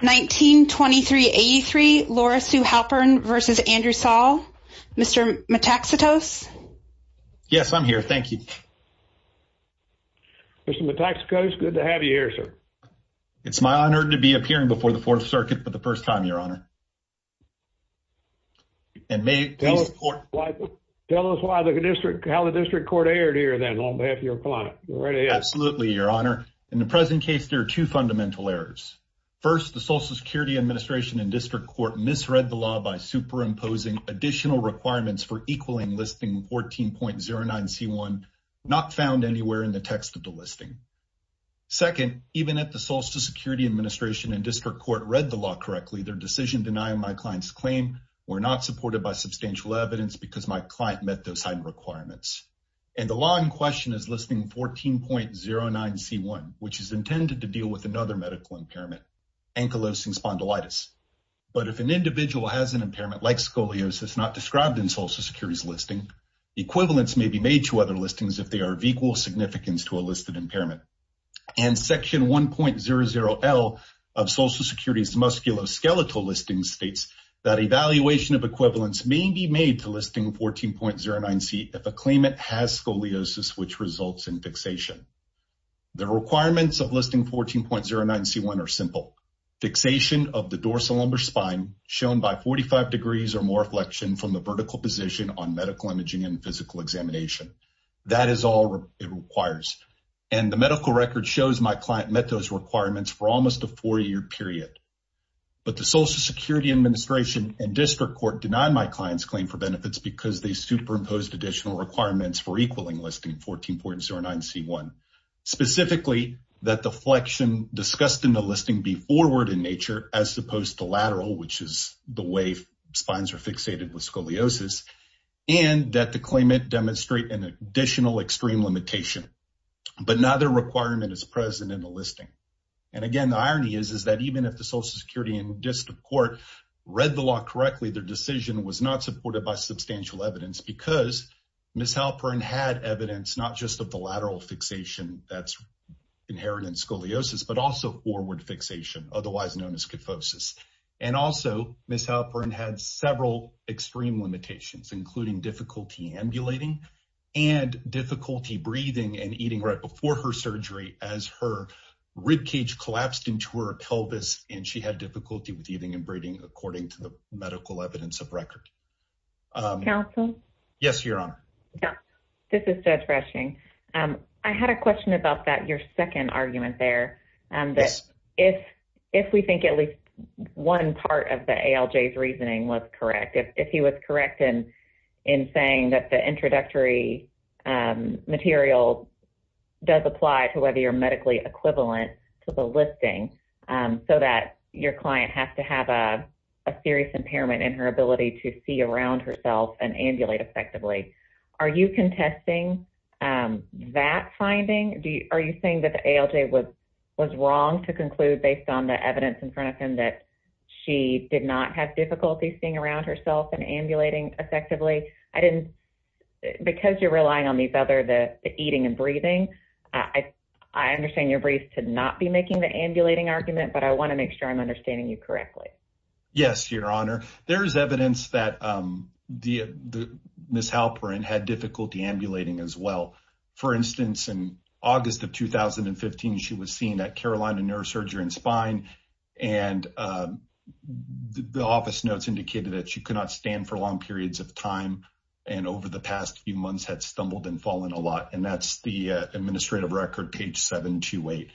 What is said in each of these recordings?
1923 83 Laura Sue Halperin versus Andrew Saul mr. Metaxas yes I'm here thank you mr. Metaxas good to have you here sir it's my honor to be appearing before the Fourth Circuit for the first time your honor and may tell us why the district how the district court aired here then on behalf of your client right absolutely your honor in the present case there are two fundamental errors first the Social Security Administration and District Court misread the law by superimposing additional requirements for equaling listing 14.09 c1 not found anywhere in the text of the listing second even at the Social Security Administration and District Court read the law correctly their decision denying my clients claim were not supported by substantial evidence because my client met those side requirements and the law in question is listing 14.09 c1 which is intended to deal with another medical impairment ankylosing spondylitis but if an individual has an impairment like scoliosis not described in Social Security's listing equivalents may be made to other listings if they are of equal significance to a listed impairment and section 1.00 L of Social Security's musculoskeletal listing states that evaluation of equivalents may be made to listing 14.09 seat if a claimant has scoliosis which results in fixation the requirements of listing 14.09 c1 are simple fixation of the dorsal lumbar spine shown by 45 degrees or more flexion from the vertical position on medical imaging and physical examination that is all it requires and the medical record shows my client met those requirements for almost a four-year period but the Social Security Administration and District Court denied my clients claim for benefits because they superimposed additional requirements for equaling listing 14.09 c1 specifically that the flexion discussed in the listing be forward in nature as opposed to lateral which is the way spines are fixated with scoliosis and that the claimant demonstrate an additional extreme limitation but neither requirement is present in the listing and again the irony is is that even if the Social Security and District Court read the law correctly their decision was not supported by substantial evidence because Ms. Halperin had evidence not just of the lateral fixation that's inherent in scoliosis but also forward fixation otherwise known as kyphosis and also Ms. Halperin had several extreme limitations including difficulty ambulating and difficulty breathing and eating right before her surgery as her ribcage collapsed into her pelvis and she had difficulty with eating and breathing according to the medical evidence of record. Counsel? Yes, Your Honor. This is Judge Freshing. I had a question about that your second argument there and that if if we think at least one part of the ALJ's reasoning was correct if he was correct in in saying that the introductory material does apply to whether you're medically equivalent to the listing so that your client has to have a serious impairment in her ability to see around herself and ambulate effectively. Are you contesting that finding? Are you saying that the ALJ was was wrong to conclude based on the evidence in front of him that she did not have difficulty seeing around herself and ambulating effectively? I didn't because you're relying on these other the eating and breathing I I understand your briefs should not be making the ambulating argument but I want to make sure I'm There's evidence that the Ms. Halperin had difficulty ambulating as well. For instance, in August of 2015 she was seen at Carolina Neurosurgery and Spine and the office notes indicated that she could not stand for long periods of time and over the past few months had stumbled and fallen a lot and that's the administrative record page 728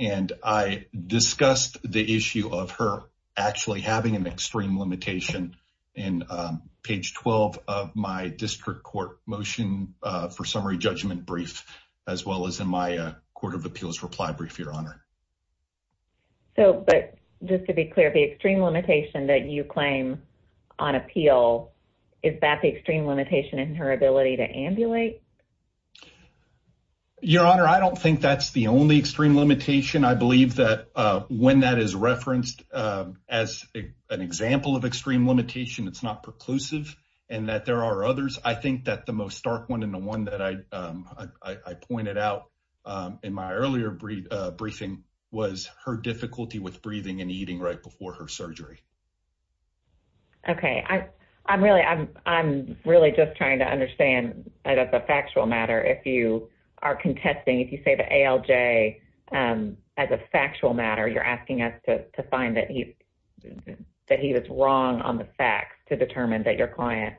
and I discussed the issue of her actually having an extreme limitation in page 12 of my district court motion for summary judgment brief as well as in my Court of Appeals reply brief your honor. So but just to be clear the extreme limitation that you claim on appeal is that the extreme limitation in her ability to ambulate? Your honor I don't think that's the only extreme limitation I believe that when that is referenced as an example of extreme limitation it's not preclusive and that there are others I think that the most stark one and the one that I I pointed out in my earlier brief briefing was her difficulty with breathing and eating right before her surgery. Okay I I'm really I'm I'm really just trying to understand that as a as a factual matter you're asking us to find that he that he was wrong on the facts to determine that your client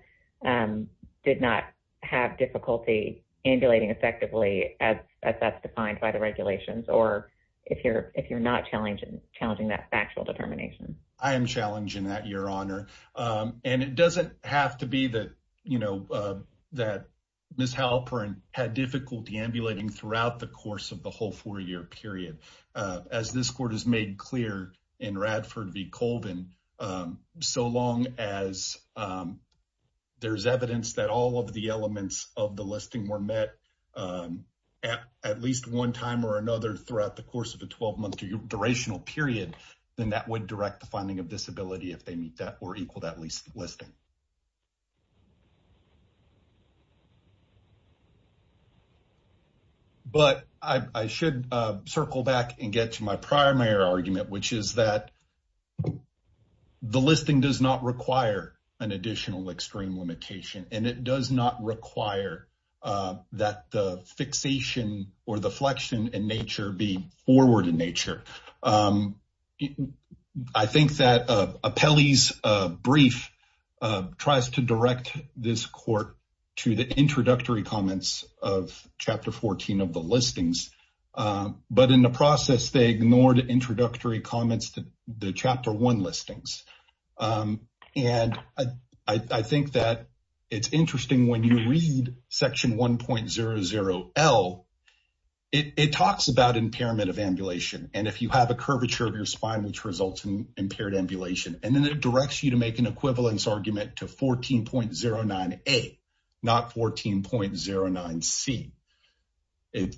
did not have difficulty ambulating effectively as that's defined by the regulations or if you're if you're not challenging challenging that factual determination. I am challenging that your honor and it doesn't have to be that you know that Ms. Halperin had difficulty ambulating throughout the course of the whole four-year period. As this court has made clear in Radford v. Colvin so long as there's evidence that all of the elements of the listing were met at least one time or another throughout the course of a 12-month durational period then that would direct the finding of disability if they meet that or equal that least listing. But I should circle back and get to my primary argument which is that the listing does not require an additional extreme limitation and it does not require that the fixation or the flexion in nature be forward in nature. I think that a Pelley's brief tries to direct this court to the introductory comments of chapter 14 of the listings but in the process they ignored introductory comments to the chapter 1 listings and I think that it's interesting when you read section 1.00 L it talks about impairment of ambulation and if you have a curvature of your spine which results in impaired ambulation and then it it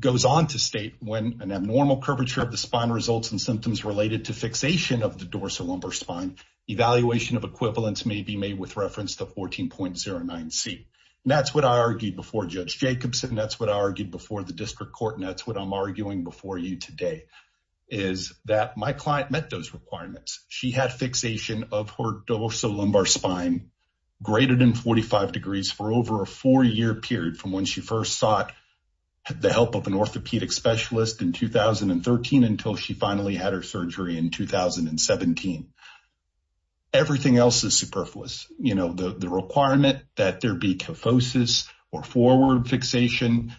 goes on to state when an abnormal curvature of the spine results in symptoms related to fixation of the dorsal lumbar spine evaluation of equivalence may be made with reference to 14.09 C. That's what I argued before Judge Jacobson. That's what I argued before the district court. That's what I'm arguing before you today is that my client met those requirements. She had fixation of her dorsal lumbar spine greater than 45 degrees for over a four-year period from when she first sought the help of an orthopedic specialist in 2013 until she finally had her surgery in 2017. Everything else is superfluous. You know the requirement that there be kyphosis or forward fixation.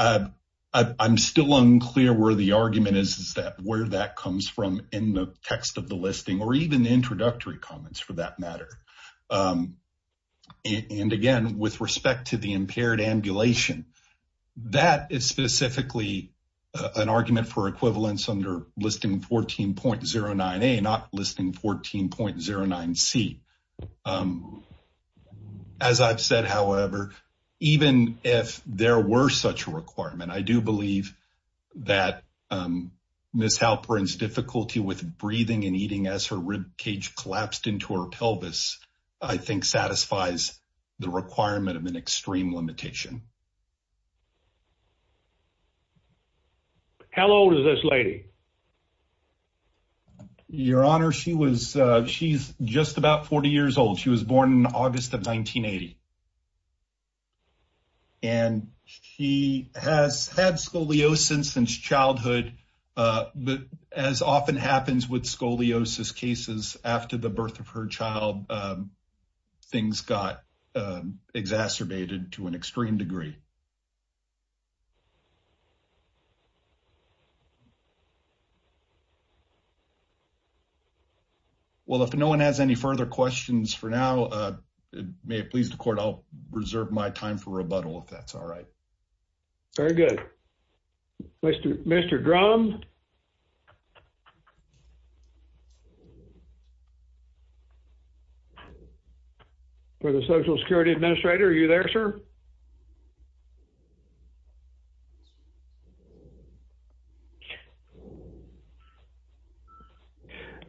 I'm still unclear where the argument is is that where that comes from in the text of the listing or even the introductory comments for that the impaired ambulation. That is specifically an argument for equivalence under listing 14.09 A not listing 14.09 C. As I've said however even if there were such a requirement I do believe that Ms. Halperin's difficulty with breathing and eating as her ribcage collapsed into her pelvis I think satisfies the requirement of an extreme limitation. How old is this lady? Your honor she was she's just about 40 years old. She was born in August of 1980 and she has had scoliosis since childhood but as often happens with scoliosis cases after the birth of her child things got exacerbated to an extreme degree. Well if no one has any further questions for now may it please the court I'll go ahead. For the Social Security Administrator are you there sir?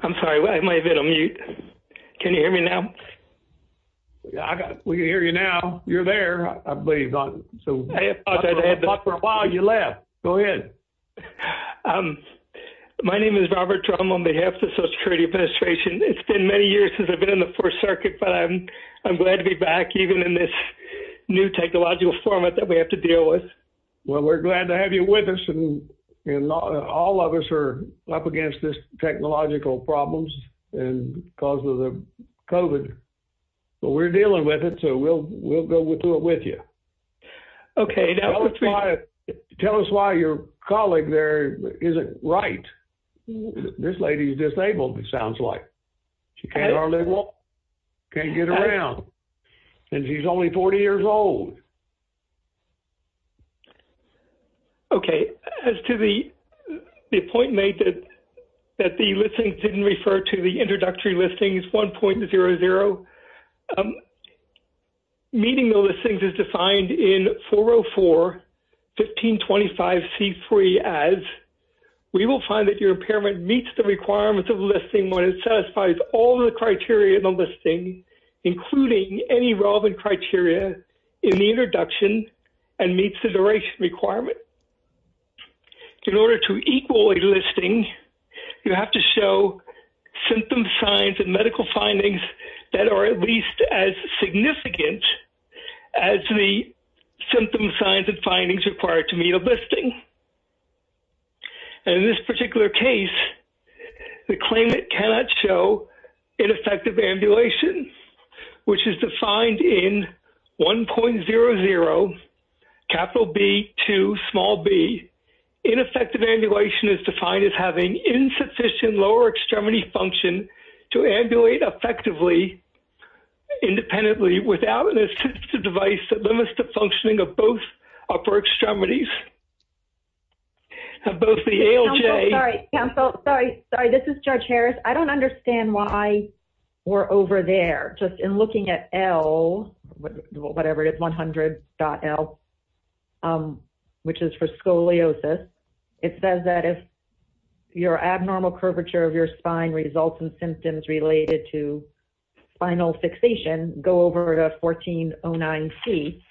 I'm sorry I might have been on mute. Can you hear me now? Yeah I got we can hear you now. You're there I believe. I thought for a while you left. Go ahead. My name is Jim. I'm with the Social Security Administration. It's been many years since I've been in the First Circuit but I'm I'm glad to be back even in this new technological format that we have to deal with. Well we're glad to have you with us and all of us are up against this technological problems and because of the COVID but we're dealing with it so we'll we'll go through it with you. Okay. Tell us why your colleague there isn't right. This lady's disabled it sounds like. She can't get around and she's only 40 years old. Okay as to the point made that that the listings didn't refer to the introductory listings 1.00 meeting the listings is defined in 404 1525 c3 as we will find that your impairment meets the requirements of listing when it satisfies all the criteria in the listing including any relevant criteria in the introduction and meets the duration requirement. In order to equal a listing you have to show symptom signs and medical findings that are at least as significant as the symptom signs and findings required to meet a listing. In this particular case the claimant cannot show ineffective ambulation which is defined in 1.00 capital B to small b ineffective ambulation is defined as having insufficient lower extremity function to ambulate effectively independently without an assistive device that limits the functioning of both upper extremities of both the ALJ I'm so sorry sorry this is Judge Harris I don't understand why we're over there just in looking at L whatever it is 100 dot L which is for scoliosis it says that if your abnormal curvature of your spine results in symptoms related to spinal fixation go over to 1409 C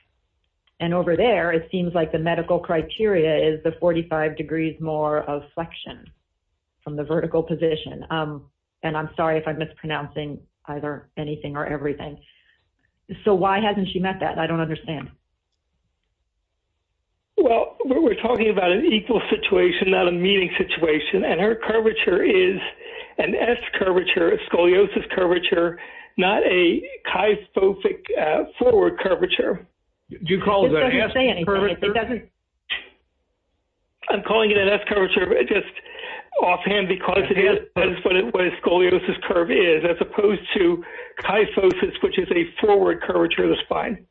and over there it seems like the medical criteria is the 45 degrees more of flexion from the vertical position and I'm sorry if I'm mispronouncing either anything or everything so why hasn't she met that I don't understand well we're talking about an equal situation that meeting situation and her curvature is an S curvature of scoliosis curvature not a kyphobic forward curvature you call it I'm calling it an S curvature just offhand because it is what it was scoliosis curve is as opposed to kyphosis which is a forward curvature of the spine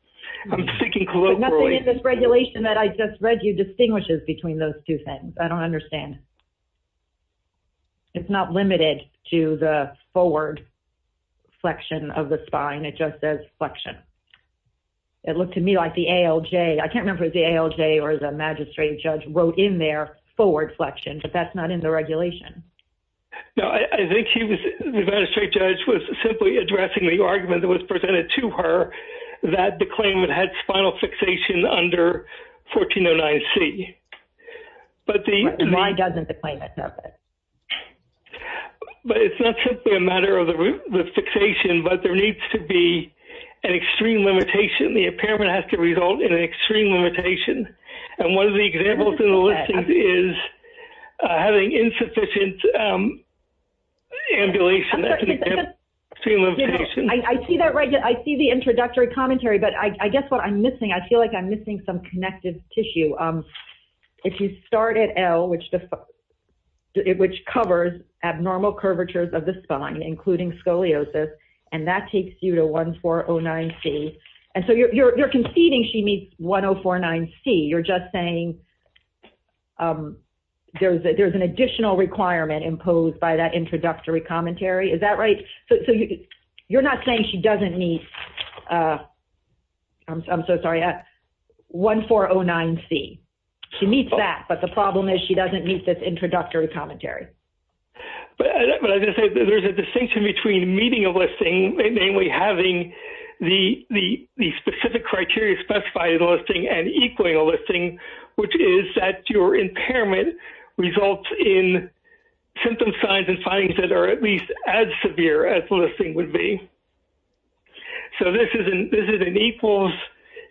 I'm speaking colloquially regulation that I just read you distinguishes between those two things I understand it's not limited to the forward flexion of the spine it just says flexion it looked to me like the ALJ I can't remember the ALJ or the magistrate judge wrote in their forward flexion but that's not in the regulation no I think he was the magistrate judge was simply addressing the argument that was presented to her that the claimant had spinal fixation under 1409 C but the doesn't the claimant of it but it's not simply a matter of the fixation but there needs to be an extreme limitation the impairment has to result in an extreme limitation and one of the examples in the list is having insufficient ambulation I see that right I see the introductory commentary but I guess what I'm missing I feel like I'm missing some connective tissue if you start at L which the it which covers abnormal curvatures of the spine including scoliosis and that takes you to 1409 C and so you're conceding she meets 1049 C you're just saying there's there's an additional requirement imposed by that introductory commentary is that right so you're not saying she doesn't need I'm so sorry at 1409 C she meets that but the problem is she doesn't meet this introductory commentary but there's a distinction between meeting a listing mainly having the the specific criteria specified listing and equaling a listing which is that your impairment results in symptom signs and findings that are at least as severe as the listing would be so this isn't this is an equals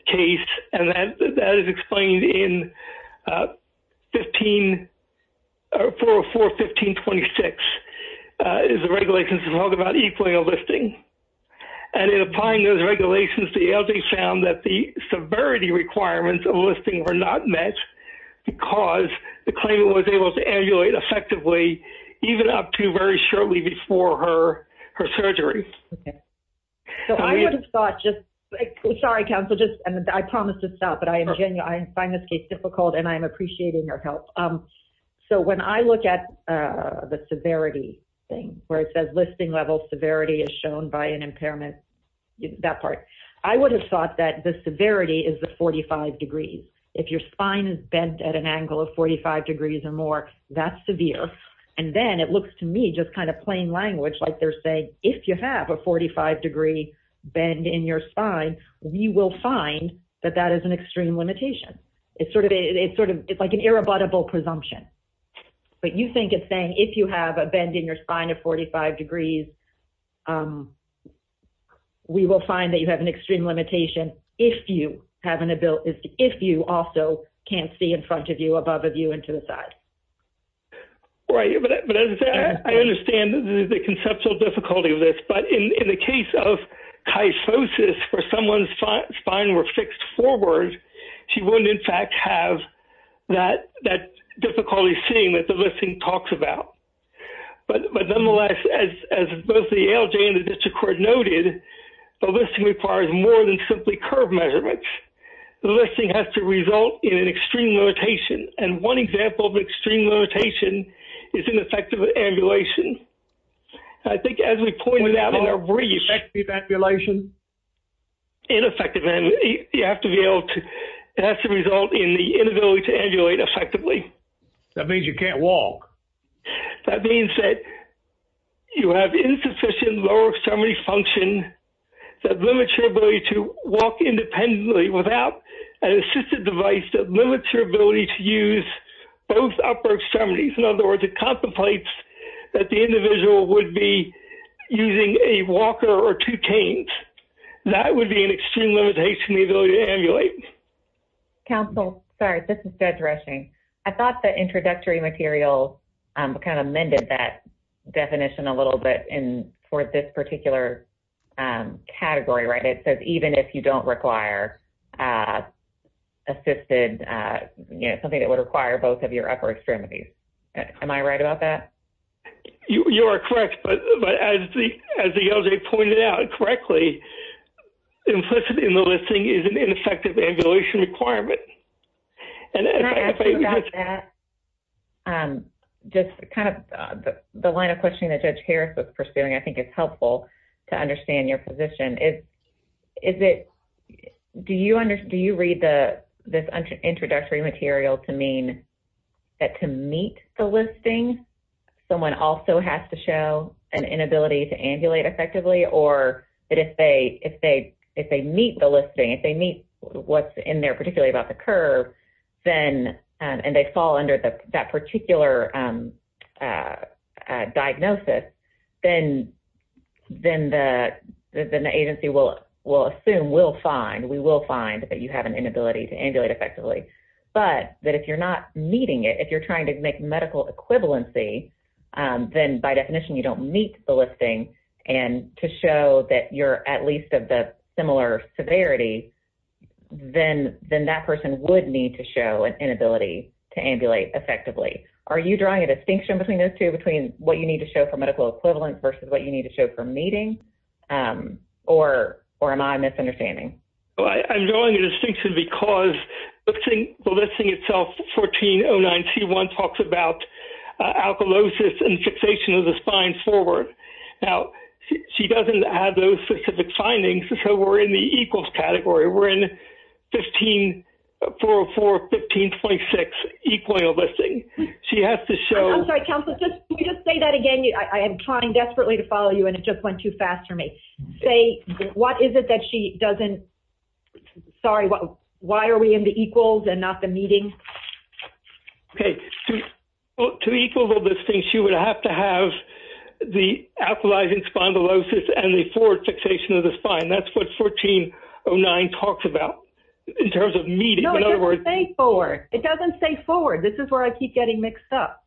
case and that is explained in 15 404 1526 is the regulations to talk about equally a listing and in applying those regulations the LJ found that the severity requirements of listing were not met because the claimant was able to emulate effectively even up to very shortly before her her surgery so I would have thought just sorry counsel just and I promise to stop but I am again I find this case difficult and I am appreciating your help so when I look at the severity thing where it says listing level severity is shown by an impairment that part I would have thought that the severity is the 45 degrees if your spine is bent at an angle of 45 degrees or more that's severe and then it looks to me just kind of plain language like they're saying if you have a 45 degree bend in your spine we will find that that is an extreme limitation it's sort of a it's sort of it's like an irrebuttable presumption but you think it's saying if you have a bend in your spine of 45 degrees we will find that you have an extreme limitation if you have an ability if you also can't see in front of you above of you into the side right I understand the conceptual difficulty of this but in the case of kyphosis for someone's fine were fixed forward she wouldn't in fact have that that difficulty seeing that the listing talks about but but nonetheless as both the LJ and the district court noted the listing requires more than simply curve measurements the listing has to result in an extreme limitation and one example of extreme limitation is an effective ambulation I think as we pointed out in a brief evaluation ineffective and you have to be able to that's the result in the inability to emulate effectively that means you can't walk that means that you have insufficient lower extremity function that limits your ability to walk independently without an assistive device that limits your ability to use both upper extremities in other words it contemplates that the individual would be using a walker or two canes that would be an extreme limitation the ability to emulate counsel sorry this is dead rushing I thought the introductory material kind amended that definition a little bit in for this particular category right it says even if you don't require assisted you know something that would require both of your upper extremities am I right about that you are correct but as the as the LJ pointed out correctly implicitly in the listing is an effective ambulation requirement and just kind of the line of questioning that judge Harris was pursuing I think it's helpful to understand your position it is it do you under do you read the this introductory material to mean that to meet the listing someone also has to show an inability to emulate effectively or if they if they if they meet the listing if they meet what's in there particularly about the curve then and they fall under the that particular diagnosis then then the agency will will assume we'll find we will find that you have an inability to emulate effectively but that if you're not meeting it if you're trying to make medical equivalency then by definition you don't meet the listing and to show that you're at least of the similar severity then then that person would need to show an inability to emulate effectively are you drawing a distinction between those two between what you need to show for medical equivalent versus what you need to show for meeting or or am I misunderstanding I'm drawing a distinction because the thing the listing itself 1409 c1 talks about alkalosis and fixation of the spine forward now she doesn't have those specific findings so we're in the equals category we're in 15 404 1526 equal a listing she has to show that again I am trying desperately to follow you and it just went too fast for me say what is it that she doesn't sorry what why are we in the equals and not the meeting okay to equal those things she would have to have the alkalizing spondylosis and the forward fixation of the spine that's what 1409 talks about in terms of meeting in other words thank for it doesn't say forward this is where I keep getting mixed up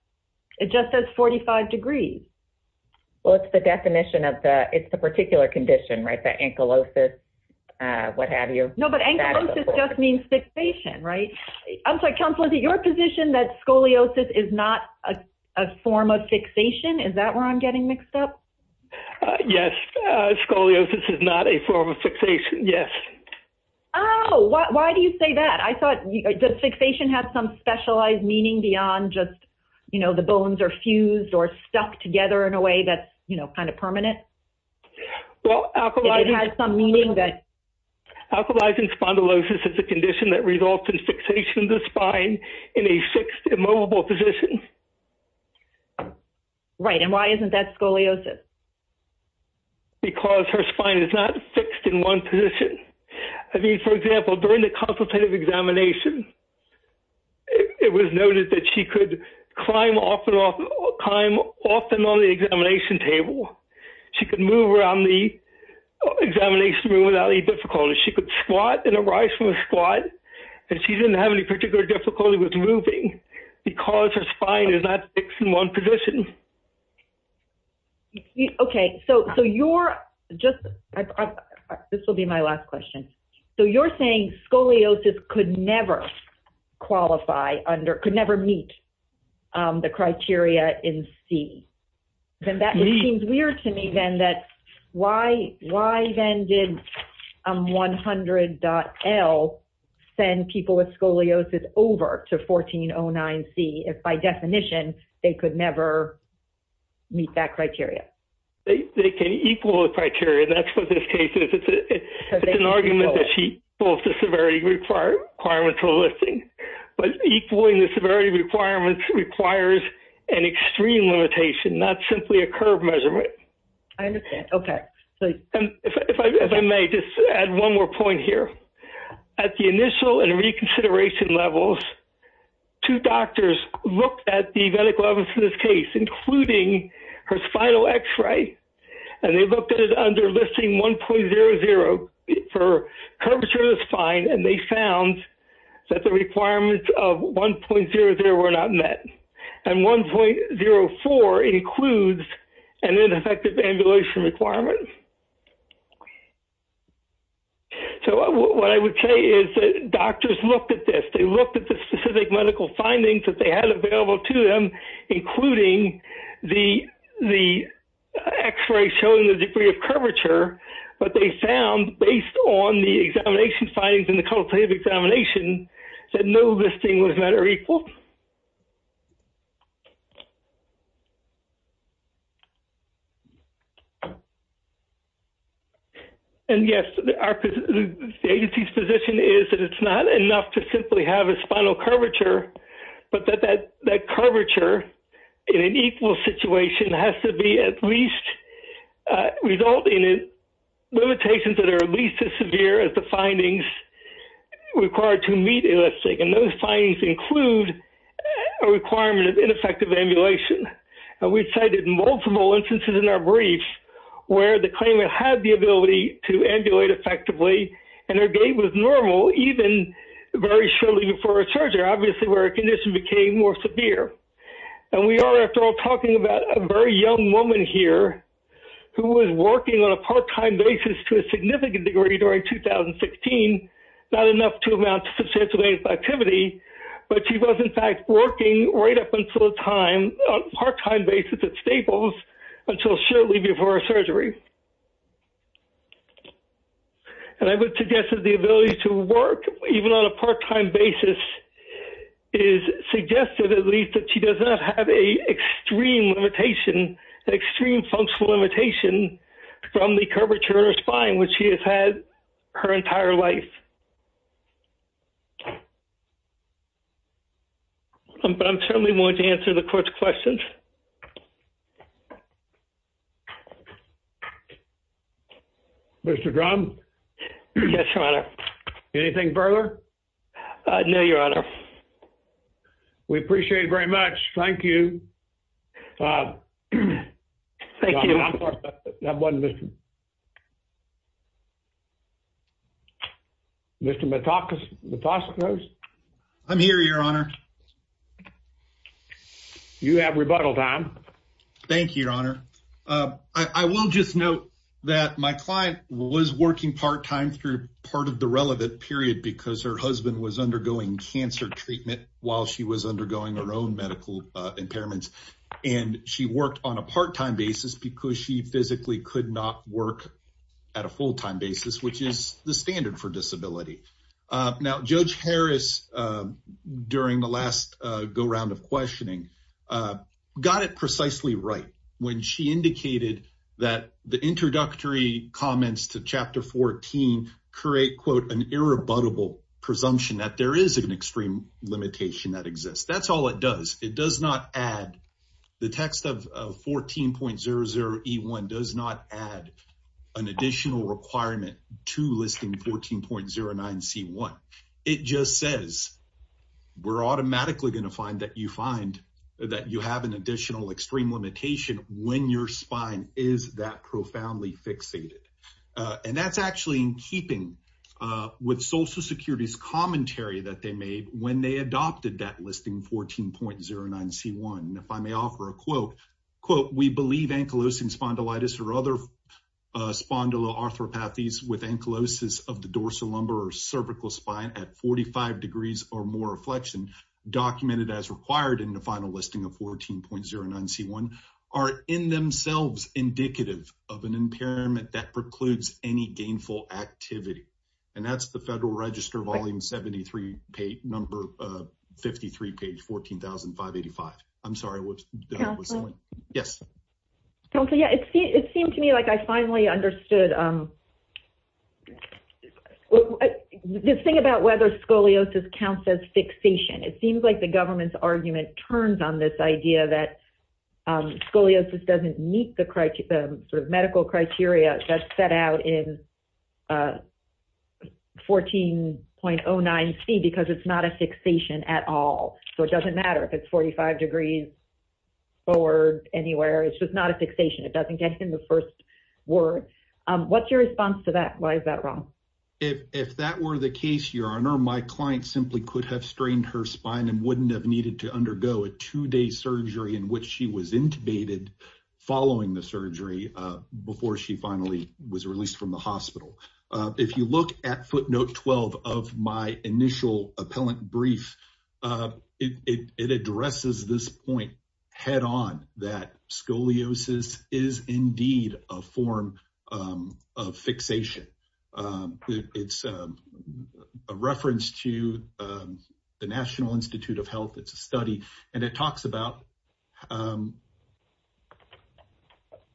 it just says 45 degrees well it's the definition of the it's the particular condition right the ankylosis what have you nobody just means fixation right I'm so confident your position that scoliosis is not a form of fixation is that where I'm getting mixed up yes scoliosis is not a form of fixation yes oh why do you say that I thought the fixation had some specialized meaning beyond just you know the bones are fused or stuck together in a way that's you know kind of permanent well I've had some meaning that alkalizing spondylosis is a condition that results in fixation the spine in a fixed immobile position right and why isn't that scoliosis because her spine is not fixed in one position I mean for example during the consultative examination it was noted that she could climb off and off climb often on the examination table she could move around the examination room without any difficulty she could squat and arise from a squat and she didn't have any particular difficulty with moving because her spine is not fixed in one position okay so so you're just this will be my last question so you're saying scoliosis could never qualify under could never meet the criteria in C then that seems weird to me then that why why then did 100 L send people with scoliosis over to 1409 see if by definition they could never meet that criteria they can equal the criteria that's what this case is it's an argument that she both the severity required requirements for listing but equaling the severity requirements requires an extreme limitation not simply a curve measurement I understand okay so if I may just add one more point here at the initial and reconsideration levels two doctors looked at the medical evidence in this case including her spinal x-ray and they looked at it under listing 1.00 for curvature of the spine and they found that the requirements of 1.00 were not met and 1.04 includes an ineffective ambulation requirement so what I would say is doctors look at this they look at the specific medical findings that they had available to them including the the x-ray showing the degree of curvature but they found based on the examination findings in the cultivative examination said no listing was better equal and yes the agency's position is that it's not enough to simply have a spinal curvature but that that that curvature in an equal situation has to be at least resulting in limitations that are at least as severe as the findings required to meet a listing and those findings include a requirement of ineffective ambulation and we cited multiple instances in our brief where the claimant had the ability to ambulate effectively and her gait was normal even very shortly before a surgery obviously where a condition became more severe and we are after all talking about a very young woman here who was working on a part-time basis to a significant degree during 2016 not enough to amount to substantial activity but she was in fact working right up until the time on part-time basis at Staples until shortly before a surgery and I would suggest that the ability to work even on a part-time basis is suggested at least that she does not have a extreme limitation extreme functional limitation from the curvature of spine which he has had her entire life but I'm certainly want to answer the court's questions mr. drum yes your honor anything further no your honor we appreciate it very much thank you thank you mr. Mitaka's the phosphorus I'm here your honor you have rebuttal time thank you your honor I will just note that my client was working part-time through part of the undergoing cancer treatment while she was undergoing her own medical impairments and she worked on a part-time basis because she physically could not work at a full-time basis which is the standard for disability now judge Harris during the last go-round of questioning got it precisely right when she indicated that the introductory comments to chapter 14 create quote an irrebuttable presumption that there is an extreme limitation that exists that's all it does it does not add the text of 14.00 e1 does not add an additional requirement to listing 14.09 c1 it just says we're automatically gonna find that you find that you have an additional extreme limitation when your spine is that profoundly fixated and that's actually in keeping with Social Security's commentary that they made when they adopted that listing 14.09 c1 if I may offer a quote quote we believe ankylosing spondylitis or other spondyloarthropathies with ankylosis of the dorsal lumbar or cervical spine at 45 degrees or more reflection documented as required in the final listing of 14.09 c1 are in themselves indicative of an impairment that precludes any gainful activity and that's the Federal Register volume 73 page number 53 page 14,000 585 I'm sorry yes don't say yeah it seemed to me like I finally understood this thing about whether scoliosis counts as fixation it seems like the government's idea that scoliosis doesn't meet the criteria sort of medical criteria that's set out in 14.09 c because it's not a fixation at all so it doesn't matter if it's 45 degrees forward anywhere it's just not a fixation it doesn't get in the first word what's your response to that why is that wrong if that were the case your honor my client simply could have strained her spine and wouldn't have needed to undergo a two-day surgery in which she was intubated following the surgery before she finally was released from the hospital if you look at footnote 12 of my initial appellant brief it addresses this point head-on that scoliosis is indeed a form of fixation it's a reference to the National Institute of Health it's a study and it talks about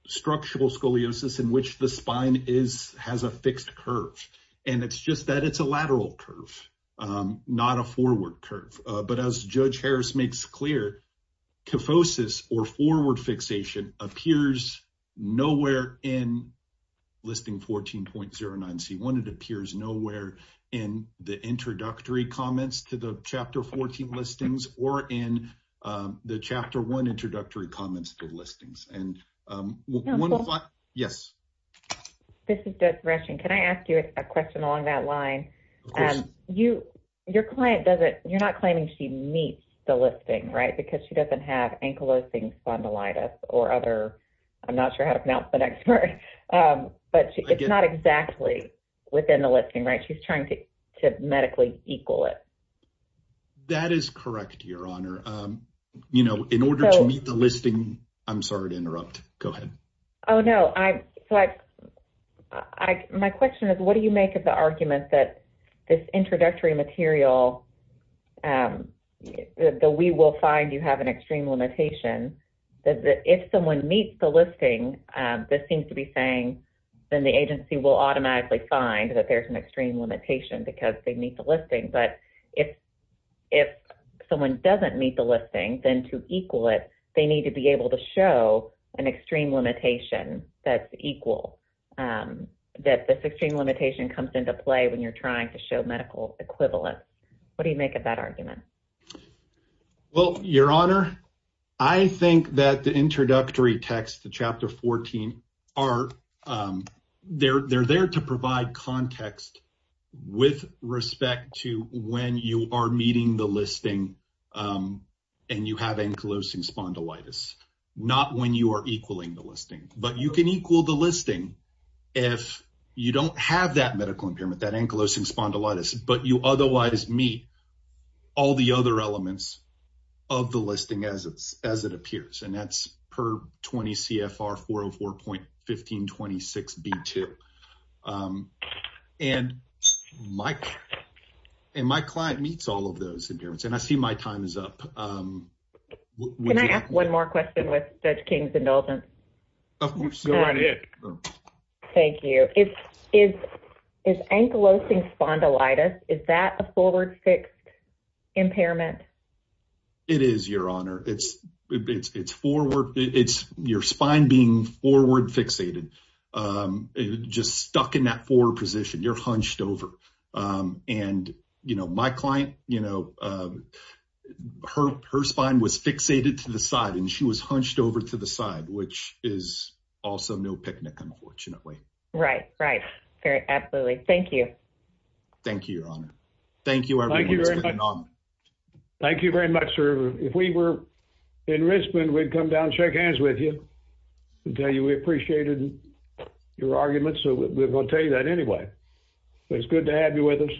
structural scoliosis in which the spine is has a fixed curve and it's just that it's a lateral curve not a forward curve but as judge Harris makes clear kyphosis or forward fixation appears nowhere in listing 14.09 c1 it appears nowhere in the introductory comments to the chapter 14 listings or in the chapter one introductory comments good listings and yes can I ask you a question on that line and you your client doesn't you're not claiming she meets the listing right because she doesn't have ankylosing spondylitis or other I'm not sure how to pronounce the next word but it's not exactly within the listing right she's trying to medically equal it that is correct your honor you know in order to meet the listing I'm sorry to interrupt go ahead oh no I like I my question is what do you make of the argument that this introductory material that we will find you have an extreme limitation that if someone meets the listing this seems to be saying then the agency will automatically find that there's an limitation because they meet the listing but if if someone doesn't meet the listing then to equal it they need to be able to show an extreme limitation that's equal that this extreme limitation comes into play when you're trying to show medical equivalence what do you make of that argument well your honor I think that the introductory text the chapter 14 are there they're there to provide context with respect to when you are meeting the listing and you have ankylosing spondylitis not when you are equaling the listing but you can equal the listing if you don't have that medical impairment that ankylosing spondylitis but you otherwise meet all the other elements of the listing as it's and that's per 20 CFR 404 point 1526 b2 and Mike and my client meets all of those impairments and I see my time is up one more question with judge King's indulgence thank you it is is ankylosing spondylitis is that a forward fixed impairment it is your honor it's it's it's forward it's your spine being forward fixated just stuck in that forward position you're hunched over and you know my client you know her her spine was fixated to the side and she was hunched over to the side which is also no picnic unfortunately right right absolutely thank you thank you your honor thank you thank you very much sir if we were in Richmond we'd come down shake hands with you until you we appreciated your arguments so we're going to tell you that anyway it's good to have you with us